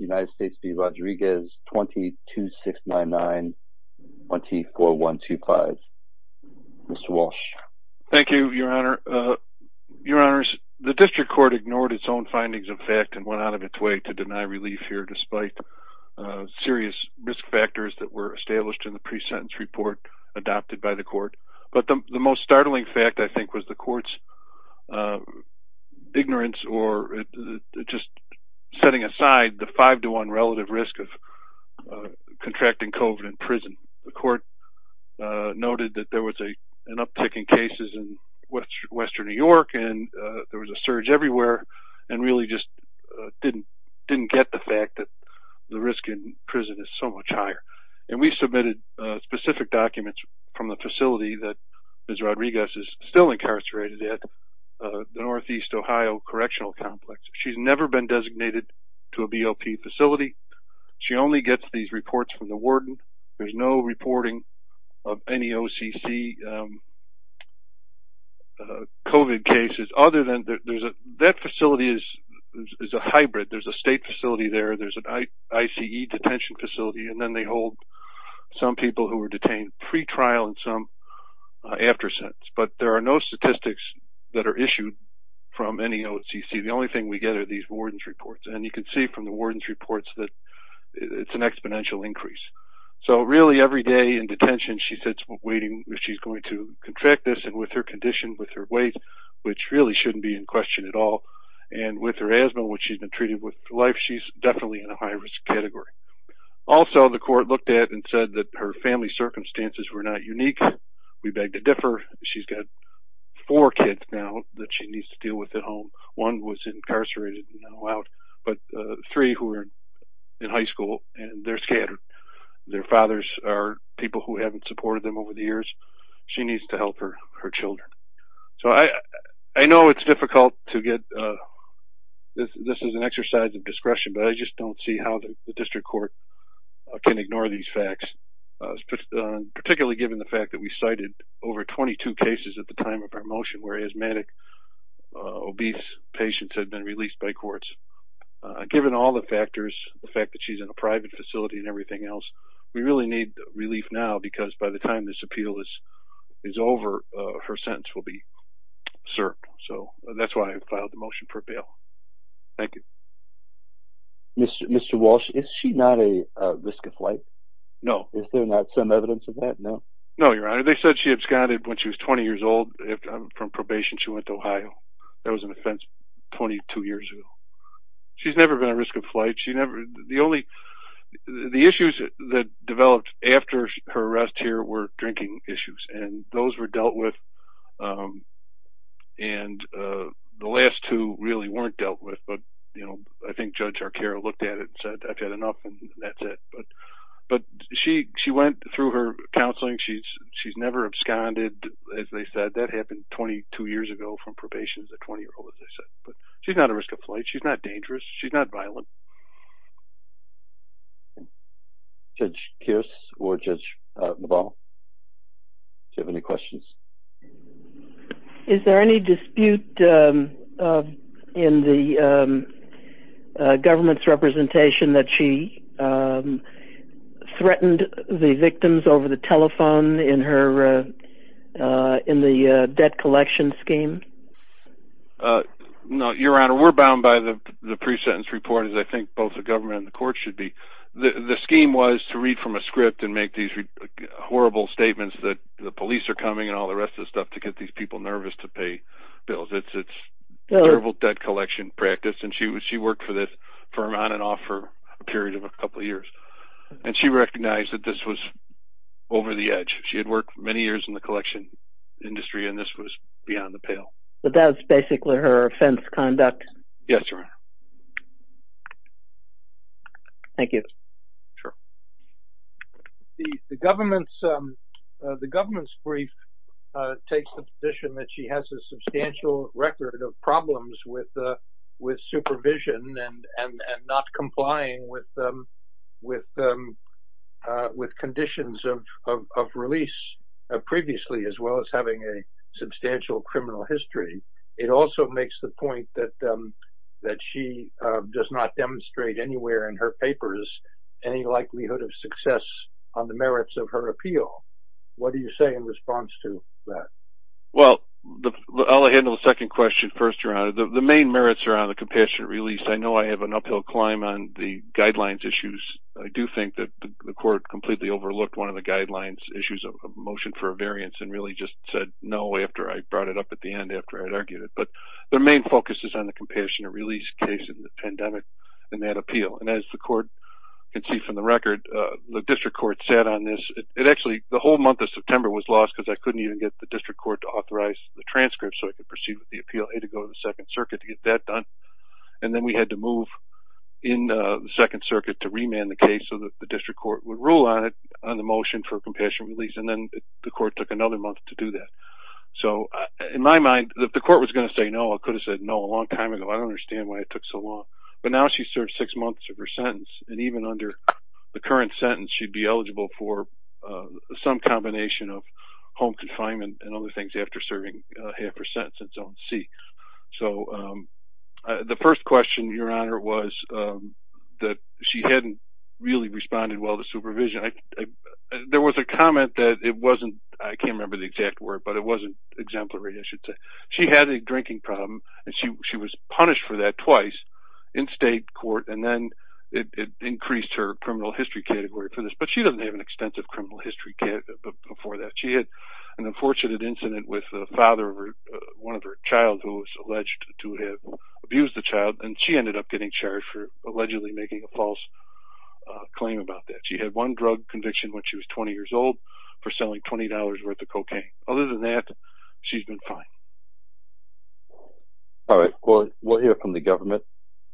2269924125 Mr. Walsh. Thank you your honor. Your honors the district court ignored its own findings of fact and went out of its way to deny relief here despite serious risk factors that were established in the pre-sentence report adopted by the court. But the most startling fact I think was the court's ignorance or just setting aside the five-to-one relative risk of contracting COVID in prison. The court noted that there was a an uptick in cases in Western New York and there was a surge everywhere and really just didn't didn't get the fact that the risk in prison is so much higher. And we submitted specific documents from the facility that Ms. Rodriguez is still incarcerated at the Northeast Ohio Correctional Complex. She's never been designated to a BLP facility. She only gets these reports from the warden. There's no reporting of any OCC COVID cases other than there's a that facility is is a hybrid. There's a state facility there. There's an ICE detention facility and then they hold some people who were detained pre-trial and some after sentence. But there are no statistics that are issued from any OCC. The only thing we get are these warden's reports and you can see from the warden's reports that it's an exponential increase. So really every day in detention she sits waiting if she's going to contract this and with her condition with her weight which really shouldn't be in question at all and with her asthma which she's been treated with life she's definitely in a high-risk category. Also the court looked at and said that her family circumstances were not unique. We beg to differ. She's got four kids now that she needs to deal with at home. One was incarcerated but three who are in high school and they're scattered. Their fathers are people who haven't supported them over the years. She needs to help her her just don't see how the district court can ignore these facts particularly given the fact that we cited over 22 cases at the time of our motion where asthmatic obese patients had been released by courts. Given all the factors the fact that she's in a private facility and everything else we really need relief now because by the time this appeal is is over her sentence will be served. So Mr. Walsh is she not a risk of flight? No. Is there not some evidence of that? No. No your honor they said she absconded when she was 20 years old from probation she went to Ohio. That was an offense 22 years ago. She's never been a risk of flight. She never the only the issues that developed after her arrest here were drinking issues and those were dealt with and the last two really weren't dealt with but you know I think Judge Arcaro looked at it and said I've had enough and that's it but but she she went through her counseling she's she's never absconded as they said that happened 22 years ago from probation as a 20 year old as I said but she's not a risk of flight. She's not dangerous. She's not violent. Judge Kearse or Judge LaValle do you have any questions? Is there any dispute in the government's representation that she threatened the victims over the telephone in her in the debt collection scheme? No your honor we're bound by the the pre-sentence report as I think both the government and the court should be. The scheme was to read from a script and make these horrible statements that the police are coming and all the rest of the stuff to get these people nervous to pay bills. It's terrible debt collection practice and she was she worked for this firm on and off for a period of a couple years and she recognized that this was over the edge. She had worked many years in the collection industry and this was beyond the pale. But that's basically her offense conduct? Yes your honor. Thank you. The government's brief takes the position that she has a substantial record of problems with supervision and not complying with conditions of release previously as well as having a substantial criminal history. It also makes the point that that she does not demonstrate anywhere in her papers any likelihood of success on the merits of her appeal. What do you say in response to that? Well I'll handle the second question first your honor. The main merits are on the compassionate release. I know I have an uphill climb on the guidelines issues. I do think that the court completely overlooked one of the guidelines issues of a motion for a variance and really just said no after I brought it up at the end after I'd argued it. But their main focus is on the compassionate release case in the pandemic and that appeal and as the court can see from the record the district court sat on this. It actually the whole month of September was lost because I couldn't even get the district court to authorize the transcript so I could proceed with the appeal. I had to go to the Second Circuit to get that done and then we had to move in the Second Circuit to remand the case so that the district court would rule on it on the motion for compassionate release and then the court took another month to do that. So in my mind that the court was going to say no I could have said no a long time ago I don't understand why it took so long but now she served six months of her sentence and even under the current sentence she'd be eligible for some combination of home confinement and other things after serving half her sentence in zone C. So the first question your honor was that she hadn't really responded well to there was a comment that it wasn't I can't remember the exact word but it wasn't exemplary I should say. She had a drinking problem and she was punished for that twice in state court and then it increased her criminal history category for this but she doesn't have an extensive criminal history before that. She had an unfortunate incident with the father of one of her child who was alleged to have abused the child and she ended up getting charged for allegedly making a claim about that. She had one drug conviction when she was 20 years old for selling $20 worth of cocaine. Other than that she's been fine. All right well we'll hear from the government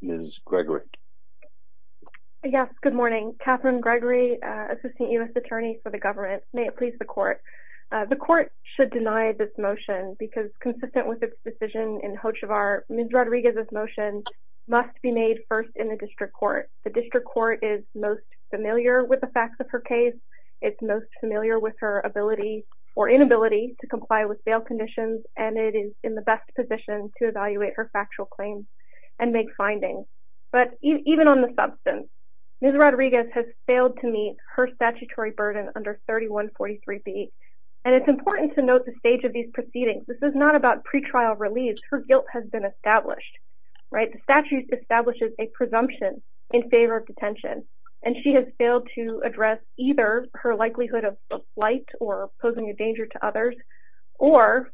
Ms. Gregory. Yes good morning Catherine Gregory assistant U.S. attorney for the government. May it please the court. The court should deny this motion because consistent with its decision in court is most familiar with the facts of her case. It's most familiar with her ability or inability to comply with bail conditions and it is in the best position to evaluate her factual claims and make findings. But even on the substance Ms. Rodriguez has failed to meet her statutory burden under 3143b and it's important to note the stage of these proceedings. This is not about pretrial release. Her guilt has been established right. The statute establishes a presumption in detention and she has failed to address either her likelihood of flight or posing a danger to others or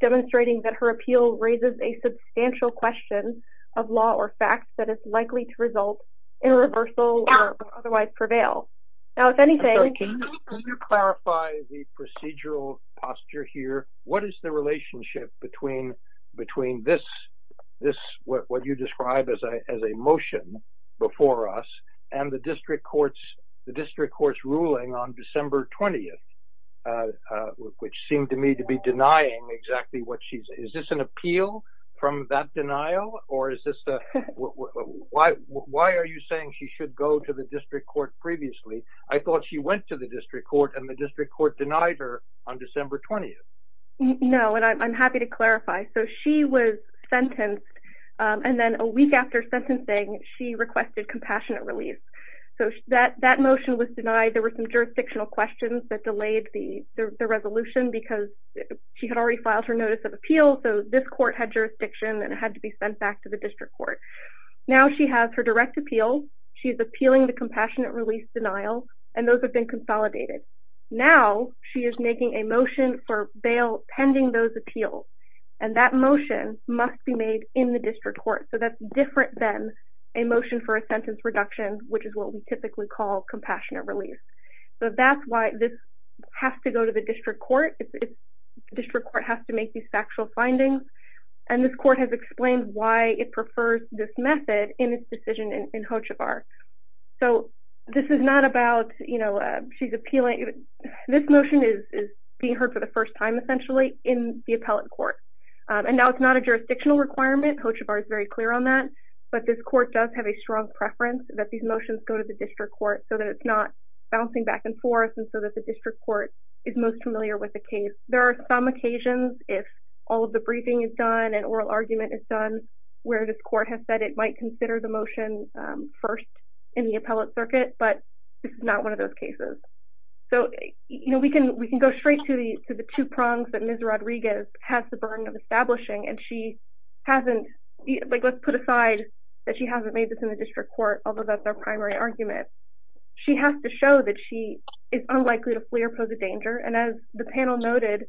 demonstrating that her appeal raises a substantial question of law or facts that is likely to result in reversal or otherwise prevail. Now if anything. Can you clarify the procedural posture here. What is the relationship between between this this what you describe as a motion before us and the district courts the district court's ruling on December 20th which seemed to me to be denying exactly what she's is this an appeal from that denial or is this the why why are you saying she should go to the district court previously. I thought she went to the district court and the district court denied her on December 20th. No and I'm happy to clarify. So she was sentencing. She requested compassionate release. So that that motion was denied. There were some jurisdictional questions that delayed the resolution because she had already filed her notice of appeal. So this court had jurisdiction and it had to be sent back to the district court. Now she has her direct appeal. She's appealing the compassionate release denial and those have been consolidated. Now she is making a motion for bail pending those appeals and that motion must be made in the district court. So that's different than a motion for a sentence reduction which is what we typically call compassionate release. So that's why this has to go to the district court. If the district court has to make these factual findings and this court has explained why it prefers this method in its decision in Hochevar. So this is not about you know she's appealing. This motion is being heard for the first time essentially in the appellate court and now it's not a jurisdictional requirement. Hochevar is very clear on that but this court does have a strong preference that these motions go to the district court so that it's not bouncing back and forth and so that the district court is most familiar with the case. There are some occasions if all of the briefing is done and oral argument is done where this court has said it might consider the motion first in the appellate circuit but it's not one of those cases. So you know we can we can go straight to the to the two prongs that Ms. Rodriguez has the burden of establishing and she hasn't like let's put aside that she hasn't made this in the district court although that's our primary argument. She has to show that she is unlikely to flee or pose a danger and as the panel noted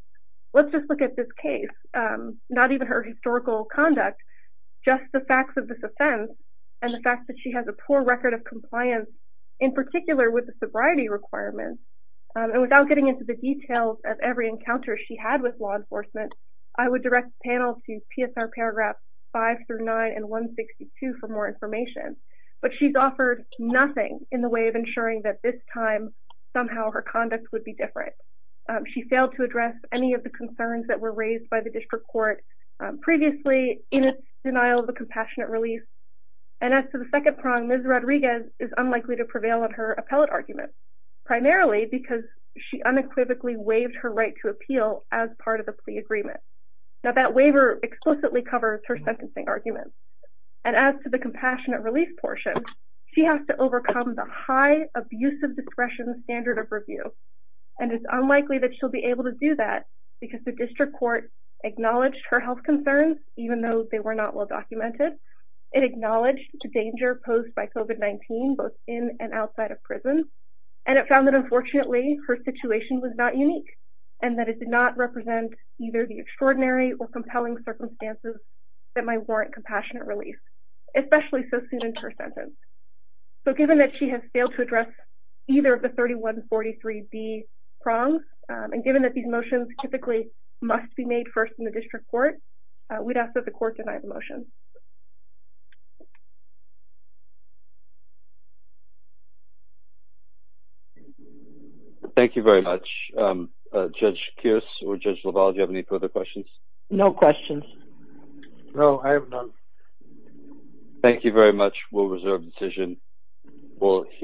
let's just look at this case not even her historical conduct just the facts of this offense and the fact that she has a poor record of compliance in particular with the sobriety requirements and without getting into the details of every encounter she had with law enforcement I would direct the panel to PSR paragraph 5 through 9 and 162 for more information but she's offered nothing in the way of ensuring that this time somehow her conduct would be different. She failed to address any of the concerns that were raised by the district court previously in its denial of a compassionate release and as to the second prong Ms. Rodriguez is unlikely to prevail on her appellate argument primarily because she unequivocally waived her right to appeal as part of the pre-agreement. Now that waiver explicitly covers her sentencing argument and as to the compassionate release portion she has to overcome the high abusive discretion standard of review and it's unlikely that she'll be able to do that because the district court acknowledged her health concerns even though they were not well documented. It acknowledged the danger posed by COVID-19 both in and outside of prison and it found that unfortunately her situation was not unique and that it did not represent either the extraordinary or compelling circumstances that might warrant compassionate release especially so soon into her sentence. So given that she has failed to address either of the 3143B prongs and given that these motions typically must be made first in the district court we'd ask that the court deny the motion. Thank you very much. Judge Kearse or Judge LaValle do you have any further questions? No questions. No I have none. Thank you very much. We'll reserve the decision. We'll hear from you in a moment.